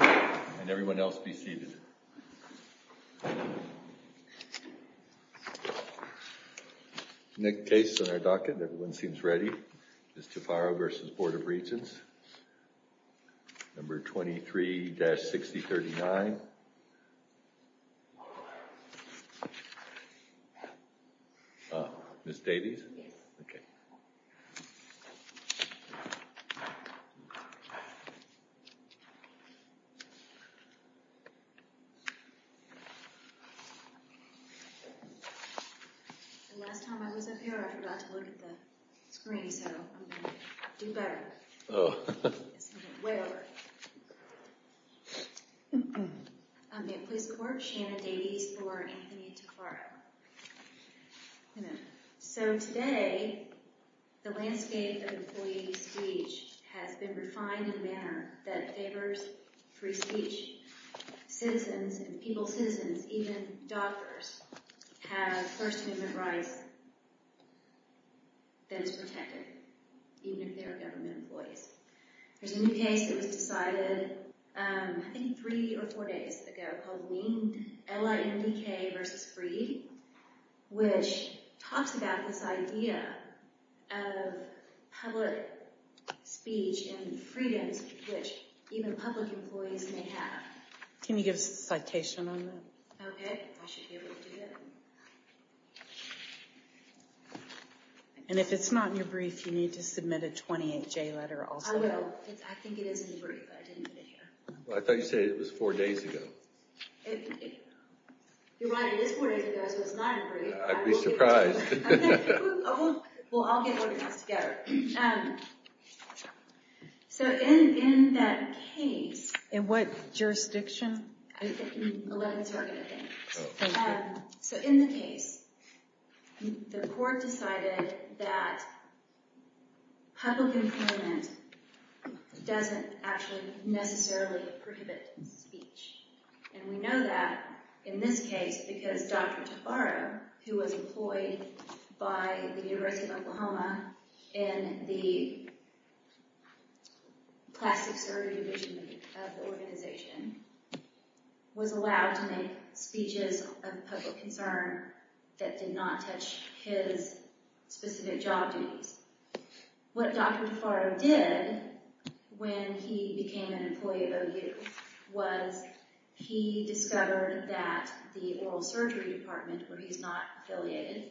And everyone else be seated. Nick Case on our docket. Everyone seems ready. Ms. Tufaro v. Board of Regents. Number 23-6039. Ms. Davies? Yes. Okay. The last time I was up here, I forgot to look at the screen, so I'm going to do better. Oh. It's way over. I'm at Police Court. Shanna Davies for Anthony Tufaro. So today, the landscape of employee speech has been refined in a manner that favors free speech. Citizens and people citizens, even doctors, have First Amendment rights that is protected, even if they are government employees. There's a new case that was decided, I think, three or four days ago, called WEANED, L-I-N-D-K versus free, which talks about this idea of public speech and freedoms which even public employees may have. Can you give us a citation on that? Okay. I should be able to do that. And if it's not in your brief, you need to submit a 28-J letter also. I will. I think it is in the brief, but I didn't put it here. Well, I thought you said it was four days ago. You're right. It is four days ago, so it's not in the brief. I'd be surprised. Well, I'll get it organized together. So in that case... In what jurisdiction? 11th Circuit, I think. Oh, thank you. So in the case, the court decided that public employment doesn't actually necessarily prohibit speech. And we know that in this case because Dr. Tafaro, who was employed by the University of Oklahoma in the plastic surgery division of the organization, was allowed to make speeches of public concern that did not touch his specific job duties. What Dr. Tafaro did when he became an employee at OU was he discovered that the oral surgery department, where he's not affiliated,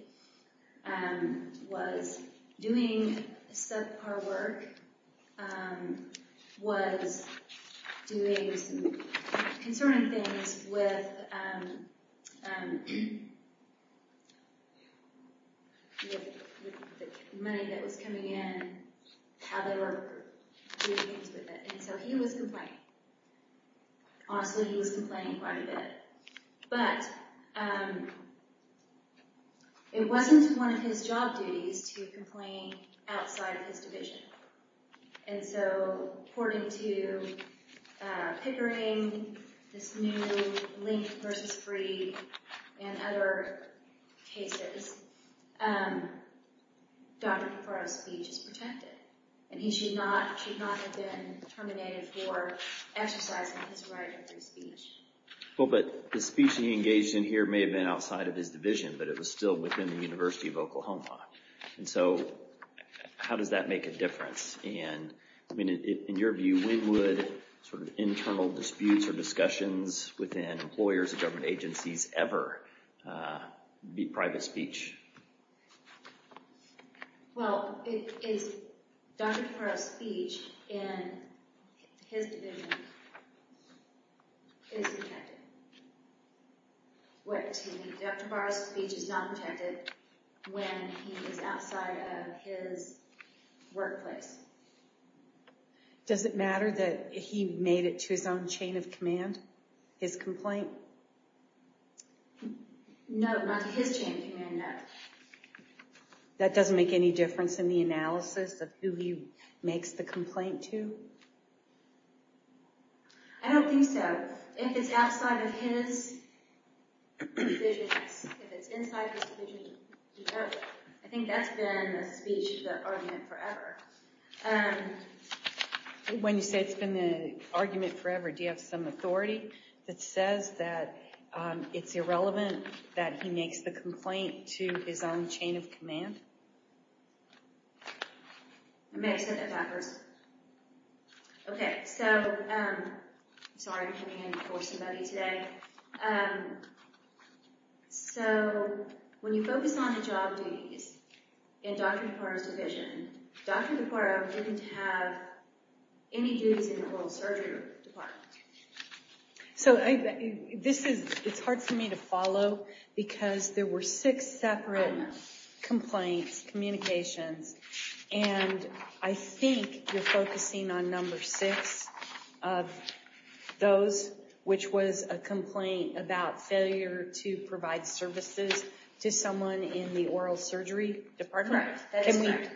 was doing subpar work, was doing some concerning things with the money that was coming in, how they were doing things with it. And so he was complaining. Honestly, he was complaining quite a bit. But it wasn't one of his job duties to complain outside of his division. And so according to Pickering, this new link versus free, and other cases, Dr. Tafaro's speech is protected. And he should not have been terminated for exercising his right of free speech. Well, but the speech he engaged in here may have been outside of his division, but it was still within the University of Oklahoma. And so how does that make a difference? And in your view, when would internal disputes or discussions within employers and government agencies ever be private speech? Well, Dr. Tafaro's speech in his division is protected. Dr. Tafaro's speech is not protected when he is outside of his workplace. Does it matter that he made it to his own chain of command, his complaint? No, not to his chain of command, no. That doesn't make any difference in the analysis of who he makes the complaint to? I don't think so. If it's outside of his division, if it's inside his division, it's protected. I think that's been the speech, the argument, forever. When you say it's been the argument forever, do you have some authority that says that it's irrelevant that he makes the complaint to his own chain of command? I may have said that backwards. Okay, so, sorry, I'm coming in before somebody today. So, when you focus on the job duties in Dr. Tafaro's division, Dr. Tafaro didn't have any duties in the oral surgery department. So, it's hard for me to follow, because there were six separate complaints, communications, and I think you're focusing on number six of those, which was a complaint about failure to provide services to someone in the oral surgery department? Correct, that is correct.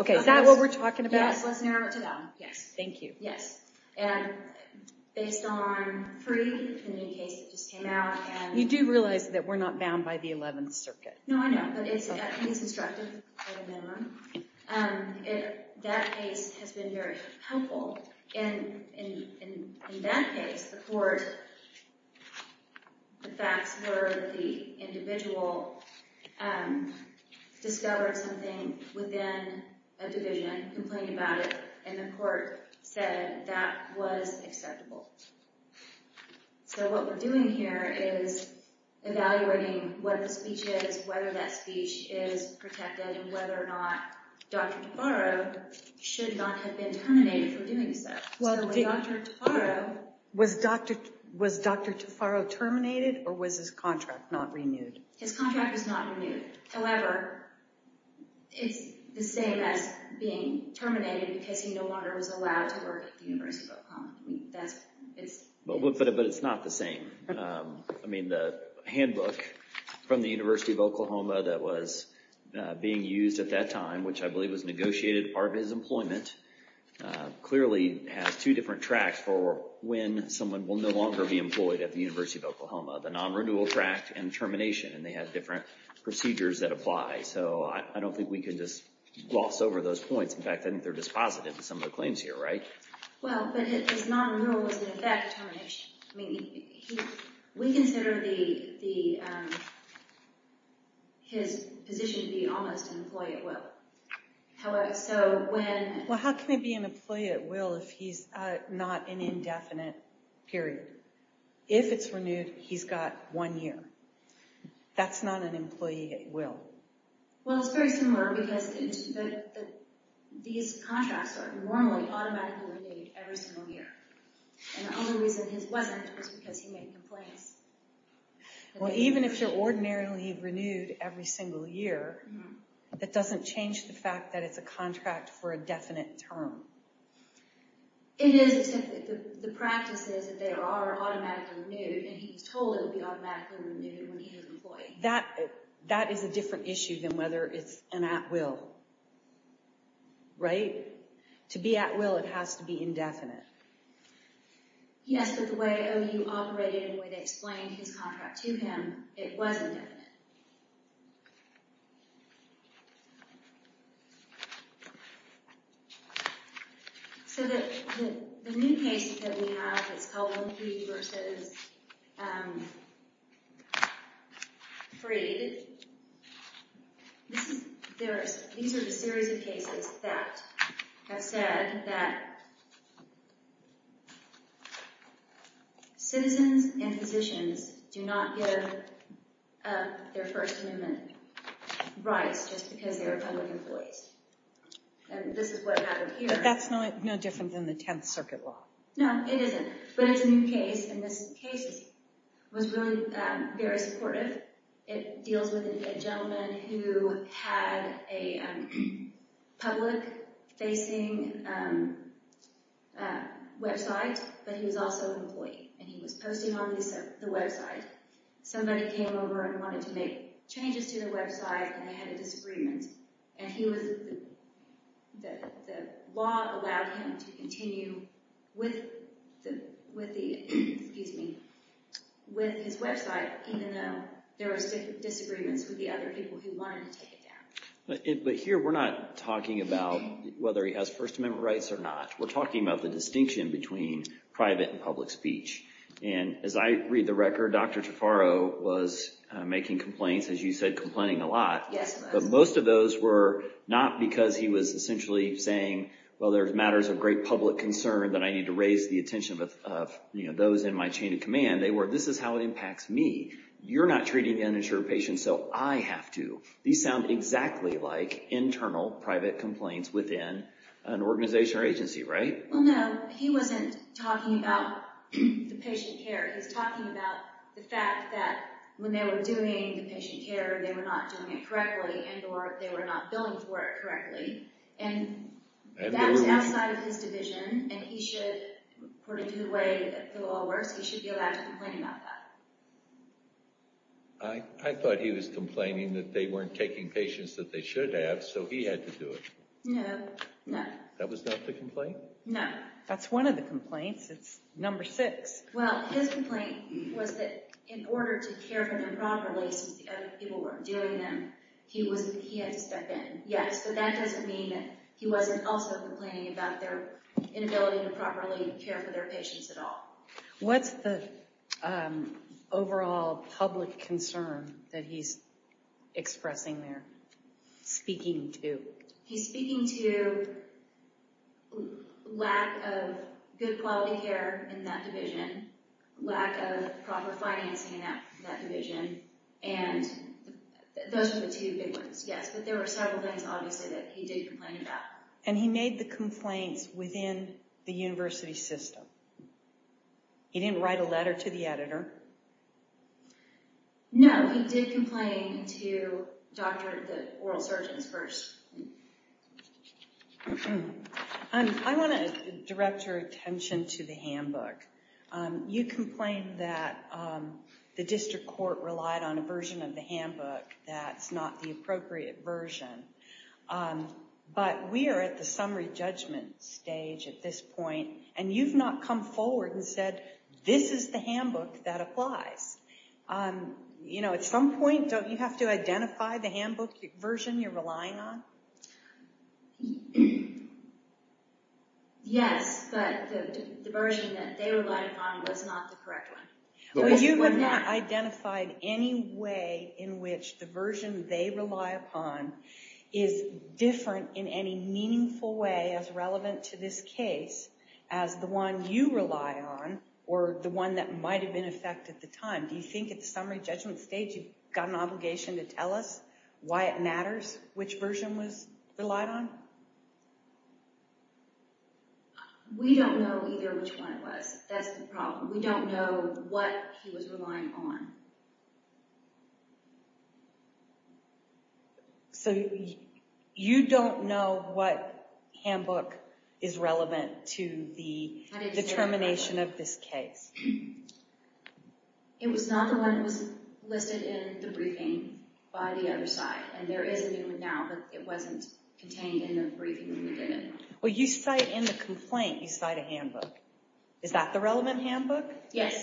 Okay, is that what we're talking about? Yes, let's narrow it down, yes. Thank you. Yes, and based on Free, the new case that just came out. You do realize that we're not bound by the 11th Circuit? No, I know, but it's at least instructive, at a minimum. That case has been very helpful. In that case, the court, the facts were the individual discovered something within a division, complained about it, and the court said that was acceptable. So, what we're doing here is evaluating what the speech is, whether that speech is protected, and whether or not Dr. Tafaro should not have been terminated for doing so. Was Dr. Tafaro terminated, or was his contract not renewed? His contract was not renewed. However, it's the same as being terminated because he no longer was allowed to work at the University of Oklahoma. But it's not the same. I mean, the handbook from the University of Oklahoma that was being used at that time, which I believe was negotiated part of his employment, clearly has two different tracks for when someone will no longer be employed at the University of Oklahoma. The non-renewal track and termination, and they have different procedures that apply. So, I don't think we can just gloss over those points. In fact, I think they're dispositive of some of the claims here, right? Well, but his non-renewal was, in effect, termination. I mean, we consider his position to be almost an employee at will. However, so when— Well, how can he be an employee at will if he's not in an indefinite period? If it's renewed, he's got one year. That's not an employee at will. Well, it's very similar because these contracts are normally automatically renewed every single year. And the only reason his wasn't was because he made complaints. Well, even if you're ordinarily renewed every single year, that doesn't change the fact that it's a contract for a definite term. It is, except that the practice is that they are automatically renewed, and he was told it would be automatically renewed when he was employed. That is a different issue than whether it's an at will, right? To be at will, it has to be indefinite. Yes, but the way OU operated and the way they explained his contract to him, it was indefinite. So the new cases that we have, it's called Wonky v. Freed. These are the series of cases that have said that citizens and physicians do not give their first amendment rights just because they're public employees. And this is what happened here. But that's no different than the Tenth Circuit law. No, it isn't. But it's a new case, and this case was really very supportive. It deals with a gentleman who had a public-facing website, but he was also an employee, and he was posting on the website. Somebody came over and wanted to make changes to the website, and they had a disagreement. And the law allowed him to continue with his website, even though there were disagreements with the other people who wanted to take it down. But here we're not talking about whether he has first amendment rights or not. We're talking about the distinction between private and public speech. And as I read the record, Dr. Taffaro was making complaints, as you said, complaining a lot. Yes, he was. But most of those were not because he was essentially saying, well, there's matters of great public concern that I need to raise the attention of those in my chain of command. They were, this is how it impacts me. You're not treating uninsured patients, so I have to. These sound exactly like internal private complaints within an organization or agency, right? Well, no. He wasn't talking about the patient care. He was talking about the fact that when they were doing the patient care, they were not doing it correctly and or they were not billing for it correctly. And that was outside of his division, and he should, according to the way it all works, he should be allowed to complain about that. I thought he was complaining that they weren't taking patients that they should have, so he had to do it. No, no. That was not the complaint? No. That's one of the complaints. It's number six. Well, his complaint was that in order to care for them properly since the other people weren't doing them, he had to step in. Yes, so that doesn't mean that he wasn't also complaining about their inability to properly care for their patients at all. What's the overall public concern that he's expressing there, speaking to? He's speaking to lack of good quality care in that division, lack of proper financing in that division, and those are the two big ones, yes. But there were several things, obviously, that he did complain about. And he made the complaints within the university system. He didn't write a letter to the editor? No, he did complain to the oral surgeons first. I want to direct your attention to the handbook. You complained that the district court relied on a version of the handbook that's not the appropriate version. But we are at the summary judgment stage at this point, and you've not come forward and said, this is the handbook that applies. At some point, don't you have to identify the handbook version you're relying on? Yes, but the version that they relied upon was not the correct one. You have not identified any way in which the version they rely upon is different in any meaningful way as relevant to this case as the one you rely on, or the one that might have been in effect at the time. Do you think at the summary judgment stage you've got an obligation to tell us why it matters which version was relied on? We don't know either which one it was. That's the problem. We don't know what he was relying on. So you don't know what handbook is relevant to the determination of this case? It was not the one that was listed in the briefing by the other side. And there is a new one now, but it wasn't contained in the briefing when we did it. Well, you cite in the complaint, you cite a handbook. Is that the relevant handbook? Yes,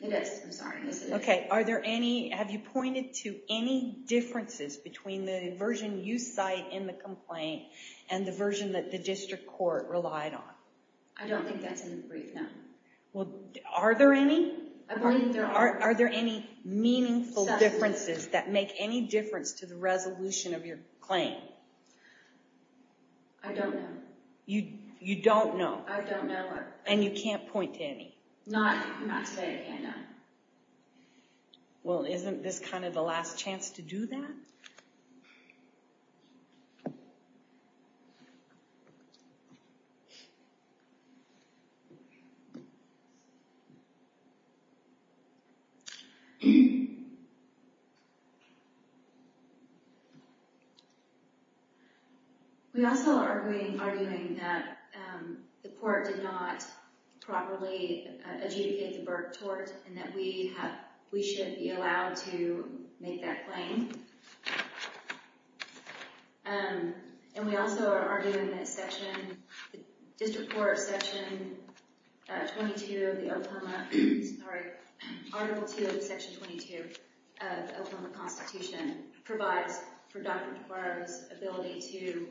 it is. I'm sorry. OK, have you pointed to any differences between the version you cite in the complaint and the version that the district court relied on? I don't think that's in the brief, no. Well, are there any? I believe there are. Are there any meaningful differences that make any difference to the resolution of your claim? I don't know. You don't know? I don't know. And you can't point to any? Not today, I can't now. Well, isn't this kind of the last chance to do that? We also are arguing that the court did not properly adjudicate the Burke tort and that we should be allowed to make that claim. And we also are arguing that section, district court section 22 of the Oklahoma, sorry, article 2 of section 22 of the Oklahoma constitution provides for Dr. DeGuaro's ability to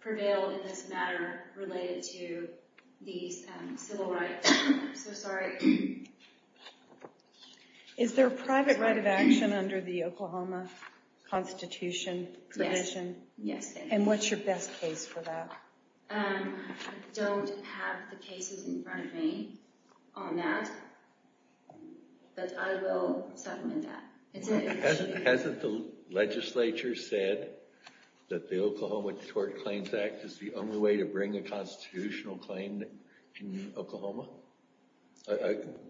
prevail in this matter related to the civil rights. I'm so sorry. Is there a private right of action under the Oklahoma constitution provision? Yes. And what's your best case for that? I don't have the cases in front of me on that, but I will settle in that. Hasn't the legislature said that the Oklahoma Tort Claims Act is the only way to bring a constitutional claim in Oklahoma?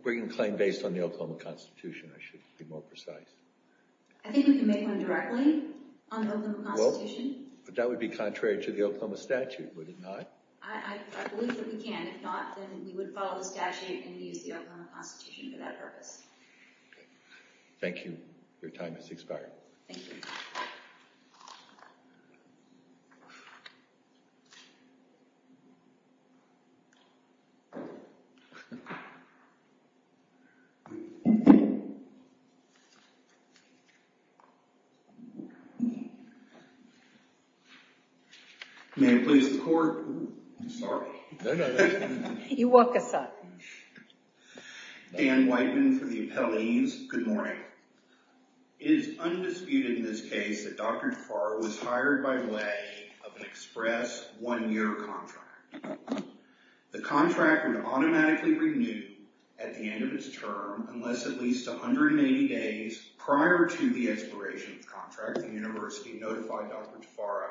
Bring a claim based on the Oklahoma constitution, I should be more precise. I think we can make one directly on the Oklahoma constitution. That would be contrary to the Oklahoma statute, would it not? I believe that we can. If not, then we would follow the statute and use the Oklahoma constitution for that purpose. Thank you. Your time has expired. Thank you. May I please record? Sorry. No, no. You woke us up. Dan Whiteman for the appellees. Good morning. It is undisputed in this case that Dr. DeFaro was hired by way of an express one-year contract. The contract would automatically renew at the end of its term unless at least 180 days prior to the expiration of the contract, the university notified Dr. DeFaro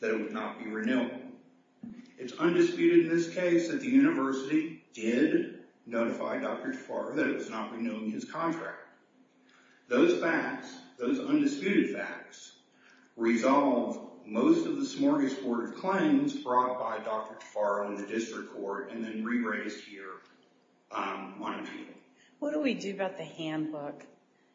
that it would not be renewed. It is undisputed in this case that the university did notify Dr. DeFaro that it was not renewing his contract. Those facts, those undisputed facts, resolve most of the smorgasbord of claims brought by Dr. DeFaro in the district court and then re-raised here on appeal. What do we do about the handbook?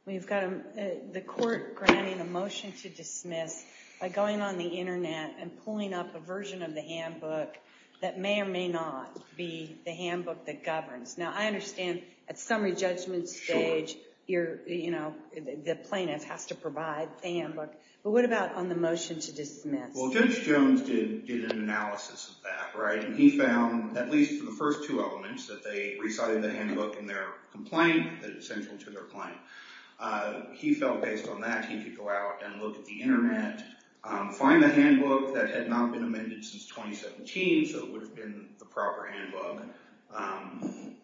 We've got the court granting a motion to dismiss by going on the internet and pulling up a version of the handbook that may or may not be the handbook that governs. Now, I understand at summary judgment stage, the plaintiff has to provide the handbook, but what about on the motion to dismiss? Well, Judge Jones did an analysis of that, right? And he found, at least for the first two elements, that they recited the handbook in their complaint that is central to their claim. He felt based on that, he could go out and look at the internet, find the handbook that had not been amended since 2017, so it would have been the proper handbook. I'm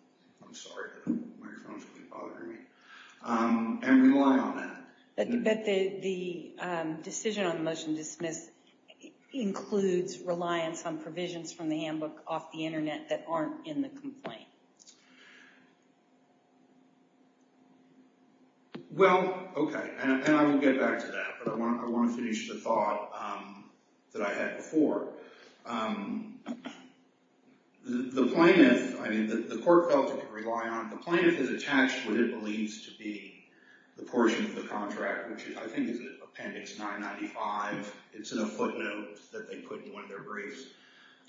sorry, the microphone is really bothering me. And rely on that. But the decision on the motion to dismiss includes reliance on provisions from the handbook off the internet that aren't in the complaint. Well, okay, and I will get back to that, but I want to finish the thought that I had before. The plaintiff, I mean, the court felt it could rely on it. The plaintiff has attached what it believes to be the portion of the contract, which I think is appendix 995. It's in a footnote that they put in one of their briefs.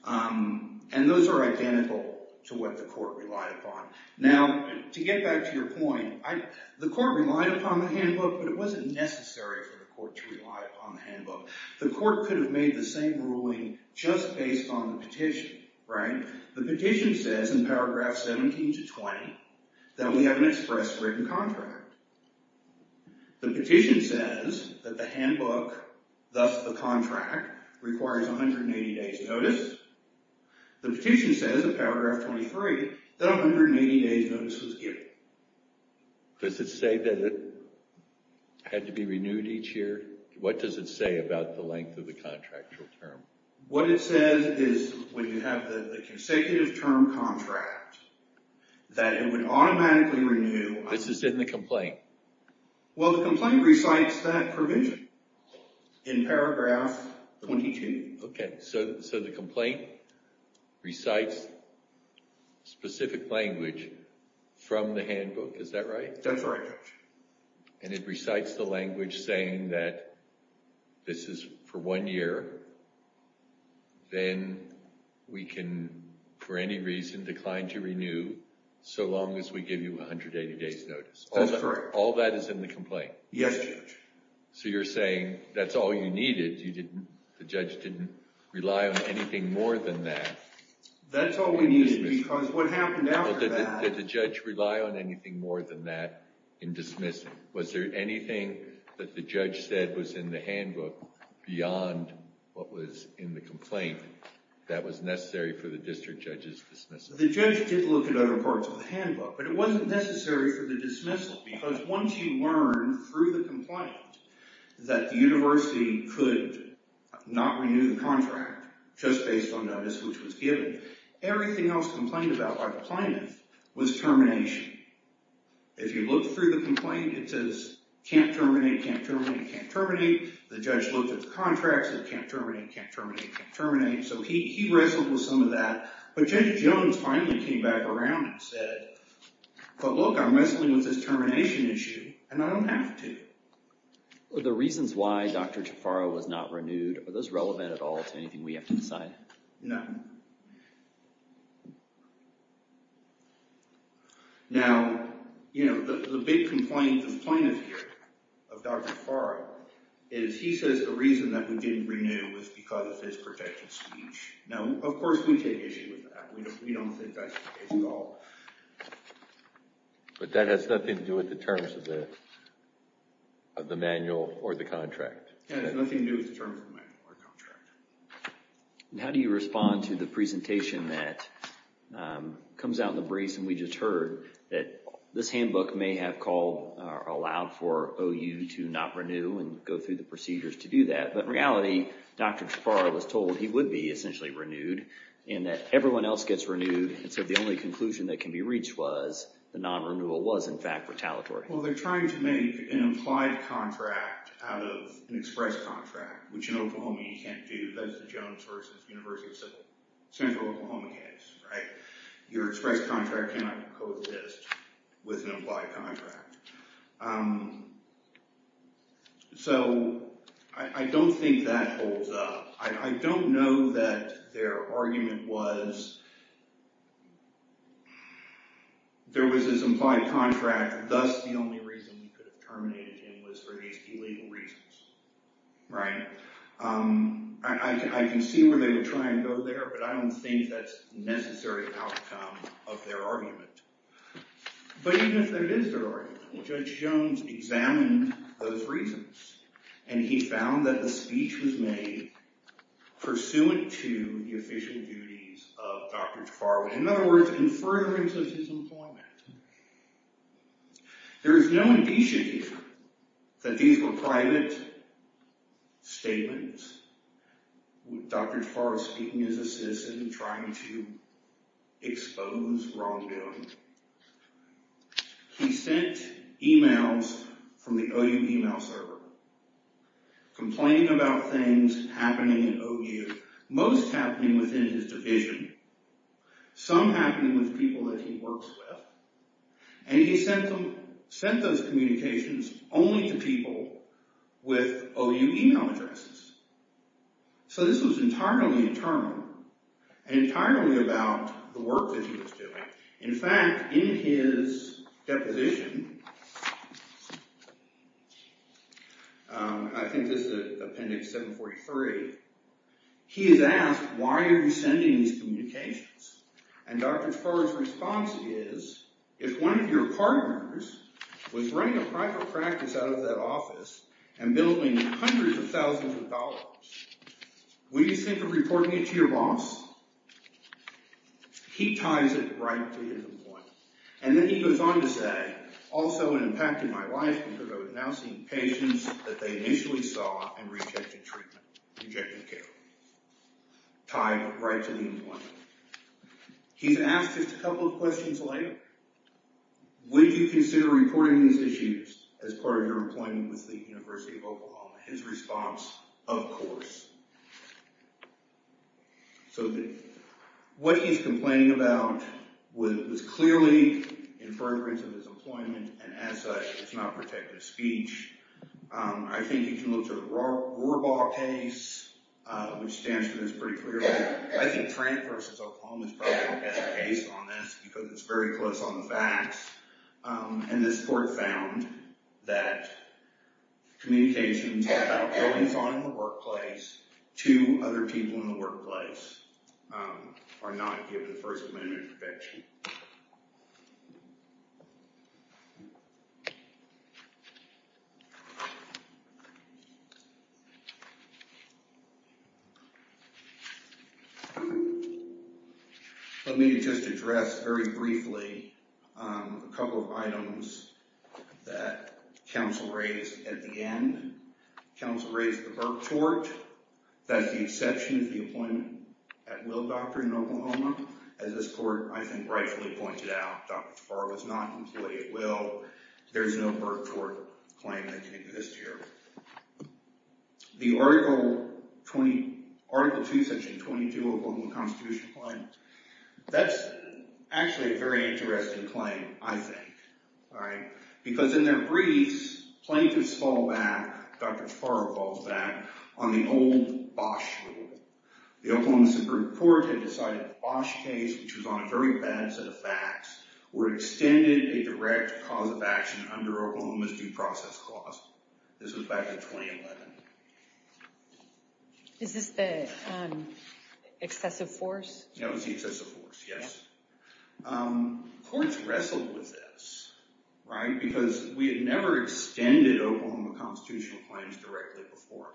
And those are identical to what the court relied upon. Now, to get back to your point, the court relied upon the handbook, but it wasn't necessary for the court to rely upon the handbook. The court could have made the same ruling just based on the petition, right? The petition says in paragraph 17 to 20 that we have an express written contract. The petition says that the handbook, thus the contract, requires 180 days' notice. The petition says in paragraph 23 that 180 days' notice was given. Does it say that it had to be renewed each year? What does it say about the length of the contractual term? What it says is when you have the consecutive term contract that it would automatically renew. This is in the complaint? Well, the complaint recites that provision in paragraph 22. Okay, so the complaint recites specific language from the handbook, is that right? That's right, Judge. And it recites the language saying that this is for one year. Then we can, for any reason, decline to renew so long as we give you 180 days' notice. That's correct. All that is in the complaint? Yes, Judge. So you're saying that's all you needed? The judge didn't rely on anything more than that? That's all we needed because what happened after that— Was there anything that the judge said was in the handbook beyond what was in the complaint that was necessary for the district judge's dismissal? The judge did look at other parts of the handbook, but it wasn't necessary for the dismissal because once you learn through the complaint that the university could not renew the contract just based on notice which was given, everything else complained about by the plaintiff was termination. If you look through the complaint, it says can't terminate, can't terminate, can't terminate. The judge looked at the contracts, it said can't terminate, can't terminate, can't terminate. So he wrestled with some of that. But Judge Jones finally came back around and said, but look, I'm wrestling with this termination issue and I don't have to. Are the reasons why Dr. Jafara was not renewed, are those relevant at all to anything we have to decide? No. No. Now, you know, the big complaint of the plaintiff here, of Dr. Jafara, is he says the reason that we didn't renew was because of his protected speech. Now, of course, we take issue with that. We don't think that's the case at all. But that has nothing to do with the terms of the manual or the contract? Yeah, it has nothing to do with the terms of the manual or contract. How do you respond to the presentation that comes out in the briefs and we just heard that this handbook may have called or allowed for OU to not renew and go through the procedures to do that. But in reality, Dr. Jafara was told he would be essentially renewed and that everyone else gets renewed. And so the only conclusion that can be reached was the non-renewal was, in fact, retaliatory. Well, they're trying to make an implied contract out of an express contract, which in Oklahoma you can't do. That's the Jones versus University of Central Oklahoma case, right? Your express contract cannot coexist with an implied contract. So I don't think that holds up. I don't know that their argument was there was this implied contract, thus the only reason we could have terminated him was for these illegal reasons, right? I can see where they would try and go there, but I don't think that's the necessary outcome of their argument. But even if there is their argument, Judge Jones examined those reasons and he found that the speech was made pursuant to the official duties of Dr. Jafara. In other words, in furtherance of his employment. There is no indication that these were private statements. Dr. Jafara speaking as a citizen, trying to expose wrongdoing. He sent emails from the OU email server, complaining about things happening at OU, most happening within his division, some happening with people that he works with, and he sent those communications only to people with OU email addresses. So this was entirely internal, entirely about the work that he was doing. In fact, in his deposition, I think this is appendix 743, he is asked, why are you sending these communications? And Dr. Jafara's response is, if one of your partners was running a private practice out of that office and billing hundreds of thousands of dollars, would you think of reporting it to your boss? He ties it right to his employment. And then he goes on to say, that also impacted my life because I was now seeing patients that they initially saw and rejected treatment, rejected care. Tied right to the employment. He's asked just a couple of questions later. Would you consider reporting these issues as part of your employment with the University of Oklahoma? His response, of course. So what he's complaining about was clearly in fervor of his employment and as such, it's not protected speech. I think you can look to the Rohrbaugh case, which stands for this pretty clearly. I think Trent v. Oklahoma is probably the best case on this because it's very close on the facts. And this court found that communications about billings on in the workplace to other people in the workplace are not given First Amendment protection. Let me just address very briefly a couple of items that counsel raised at the end. Counsel raised the Burke tort. That's the exception of the appointment at Will Doctor in Oklahoma. As this court, I think, rightfully pointed out, Dr. Tavar was not an employee at Will. There's no Burke tort claim that can exist here. The Article 2, Section 22, Oklahoma Constitution claim. That's actually a very interesting claim, I think. Because in their briefs, plaintiffs fall back, Dr. Tavar falls back on the old Bosch rule. The Oklahoma Supreme Court had decided the Bosch case, which was on a very bad set of facts, were extended a direct cause of action under Oklahoma's due process clause. This was back in 2011. Is this the excessive force? That was the excessive force, yes. Courts wrestled with this. Because we had never extended Oklahoma constitutional claims directly before.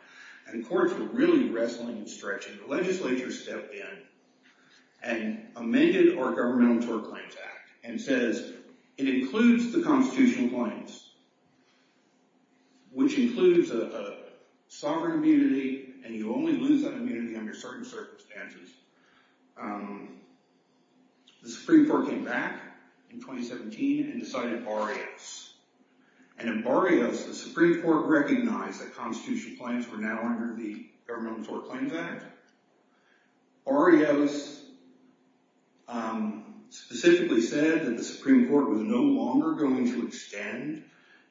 And courts were really wrestling and stretching. The legislature stepped in and amended our Governmental Tort Claims Act and says it includes the constitutional claims, which includes a sovereign immunity, and you only lose that immunity under certain circumstances. The Supreme Court came back in 2017 and decided Barrios. And in Barrios, the Supreme Court recognized that constitutional claims were now under the Governmental Tort Claims Act. Barrios specifically said that the Supreme Court was no longer going to extend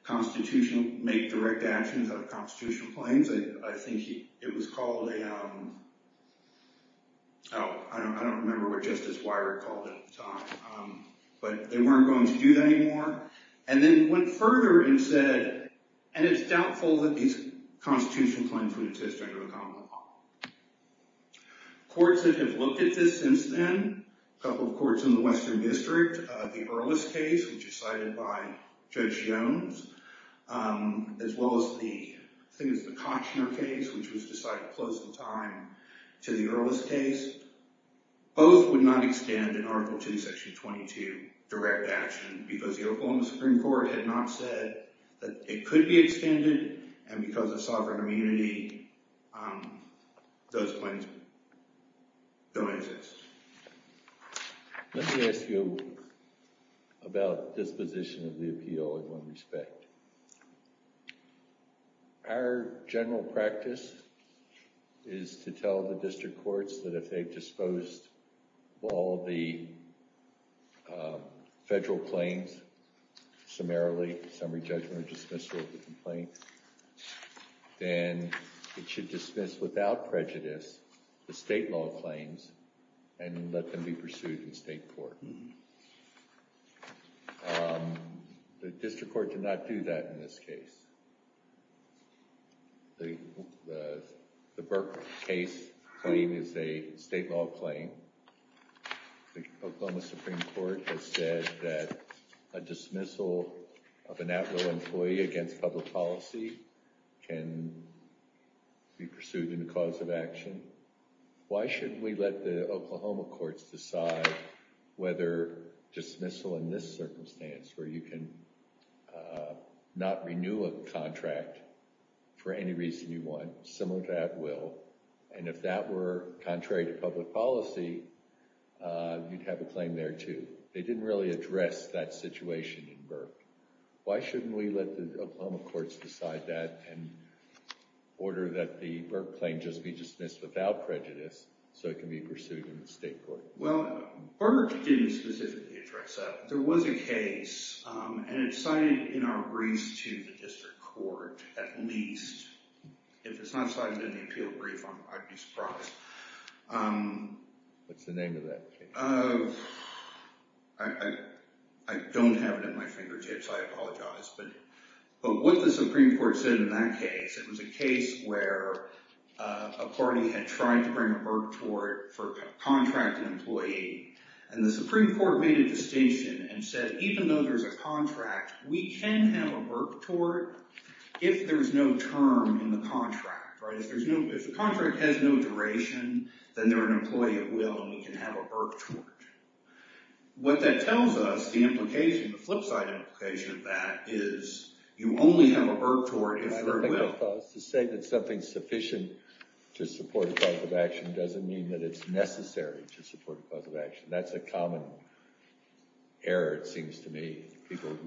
constitutional, make direct actions out of constitutional claims. I think it was called a... Oh, I don't remember what Justice Weirich called it at the time. But they weren't going to do that anymore. And then went further and said, and it's doubtful that these constitutional claims would exist under a common law. Courts that have looked at this since then, a couple of courts in the Western District, the Earless case, which is cited by Judge Jones, as well as the Koshner case, which was decided close in time to the Earless case, both would not extend an Article 2, Section 22 direct action because the Oklahoma Supreme Court had not said that it could be extended, and because of sovereign immunity, those claims don't exist. Let me ask you about disposition of the appeal in one respect. Our general practice is to tell the district courts that if they've disposed of all the federal claims, summarily, summary judgment or dismissal of the complaint, then it should dismiss without prejudice the state law claims, and let them be pursued in state court. The district court did not do that in this case. The Burke case claim is a state law claim. The Oklahoma Supreme Court has said that a dismissal of an at-will employee against public policy can be pursued in a cause of action. Why shouldn't we let the Oklahoma courts decide whether dismissal in this circumstance, where you can not renew a contract for any reason you want, similar to at-will, and if that were contrary to public policy, you'd have a claim there too. They didn't really address that situation in Burke. Why shouldn't we let the Oklahoma courts decide that and order that the Burke claim just be dismissed without prejudice so it can be pursued in the state court? Well, Burke didn't specifically address that. There was a case, and it's cited in our briefs to the district court, at least, if it's not cited in the appeal brief, I'd be surprised. What's the name of that case? I don't have it at my fingertips. I apologize. But what the Supreme Court said in that case, it was a case where a party had tried to bring a Burke tort for a contract employee, and the Supreme Court made a distinction and said, even though there's a contract, we can have a Burke tort if there's no term in the contract. If the contract has no duration, then they're an employee at will, and we can have a Burke tort. What that tells us, the implication, the flip side implication of that, is you only have a Burke tort if there's a will. To say that something's sufficient to support a cause of action doesn't mean that it's necessary to support a cause of action. That's a common error, it seems to me.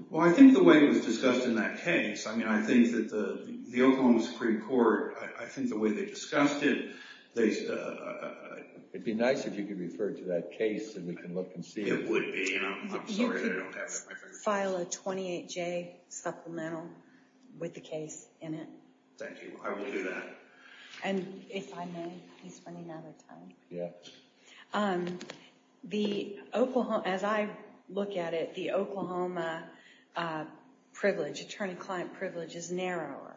Well, I think the way it was discussed in that case, I mean, I think that the Oklahoma Supreme Court, I think the way they discussed it, they... It'd be nice if you could refer to that case so we can look and see. It would be, and I'm sorry I don't have it at my fingertips. You could file a 28-J supplemental with the case in it. Thank you. I will do that. And if I may, he's running out of time. Yeah. As I look at it, the Oklahoma privilege, attorney-client privilege, is narrower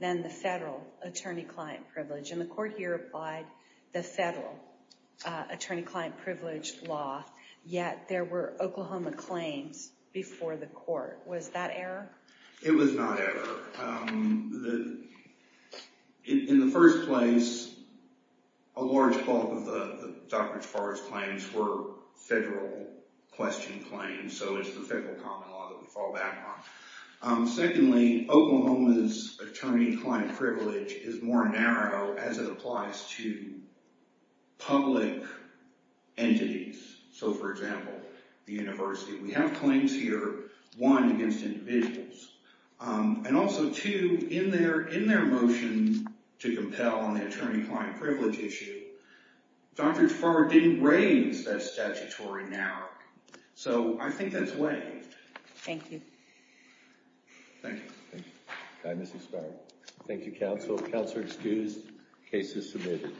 than the federal attorney-client privilege. And the court here applied the federal attorney-client privilege law, yet there were Oklahoma claims before the court. Was that error? It was not error. In the first place, a large bulk of the Dr. Jafari's claims were federal-questioned claims, and so is the federal common law that we fall back on. Secondly, Oklahoma's attorney-client privilege is more narrow as it applies to public entities. So, for example, the university. We have claims here, one, against individuals. And also, two, in their motion to compel on the attorney-client privilege issue, Dr. Jafari didn't raise that statutory narrowing. So, I think that's a way. Thank you. Thank you. Thank you. Thank you, counsel. Counselor excused. Case is submitted.